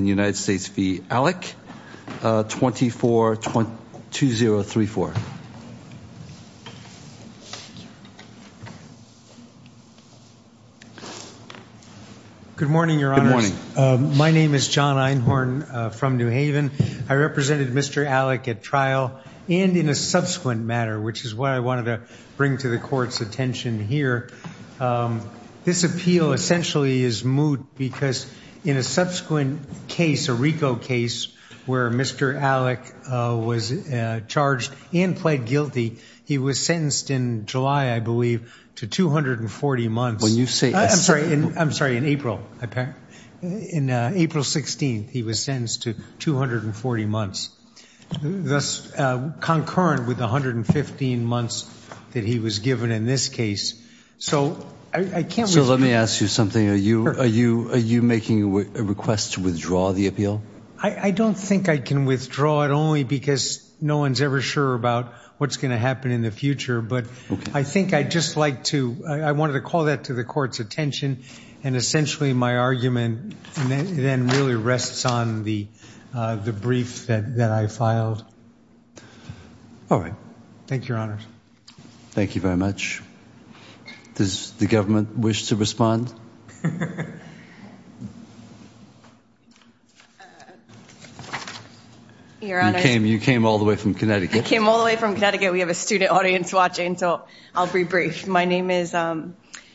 Good morning, Your Honors. My name is John Einhorn from New Haven. I represented Mr. Allick at trial and in a subsequent matter, which is what I wanted to bring to the Court's attention here, this appeal essentially is moot because in a subsequent case, a RICO case, where Mr. Allick was charged and pled guilty, he was sentenced in July, I believe, to 240 months. I'm sorry, in April. In April 16th, he was sentenced to 240 months, thus concurrent with the 115 months that he was given in this case. So, I can't resume... So let me ask you something. Are you making a request to withdraw the appeal? I don't think I can withdraw it only because no one's ever sure about what's going to happen in the future, but I think I'd just like to, I wanted to call that to the Court's attention and essentially, my argument then really rests on the, the brief that, that I filed. All right. Thank you, Your Honors. Thank you very much. Does the government wish to respond? Your Honors... You came, you came all the way from Connecticut. I came all the way from Connecticut. We have a student audience watching, so I'll be brief. My name is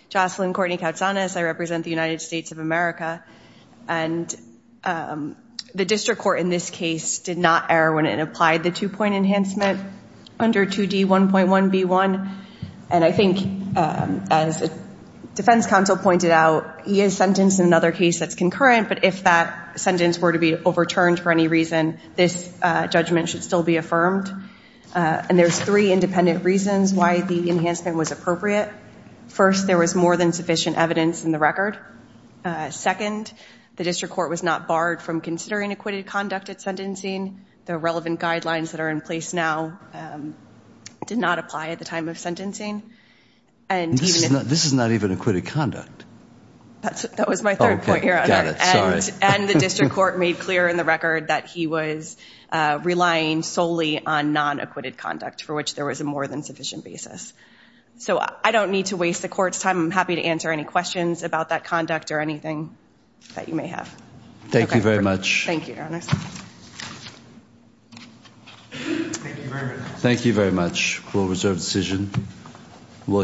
Jocelyn Courtney Koutsanis. I represent the United States of America. And the district court in this case did not err when it applied the two-point enhancement under 2D1.1b1. And I think, as the defense counsel pointed out, he is sentenced in another case that's concurrent, but if that sentence were to be overturned for any reason, this judgment should still be affirmed. And there's three independent reasons why the enhancement was appropriate. First, there was more than sufficient evidence in the record. Second, the district court was not barred from considering acquitted conduct at sentencing. The relevant guidelines that are in place now did not apply at the time of sentencing. And this is not, this is not even acquitted conduct. That was my third point, Your Honor. Okay. Got it. Sorry. And the district court made clear in the record that he was relying solely on non-acquitted conduct for which there was a more than sufficient basis. So I don't need to waste the court's time. I'm happy to answer any questions about that conduct or anything that you may have. Thank you very much. Thank you, Your Honor. Thank you very much. Thank you very much. We'll reserve the decision.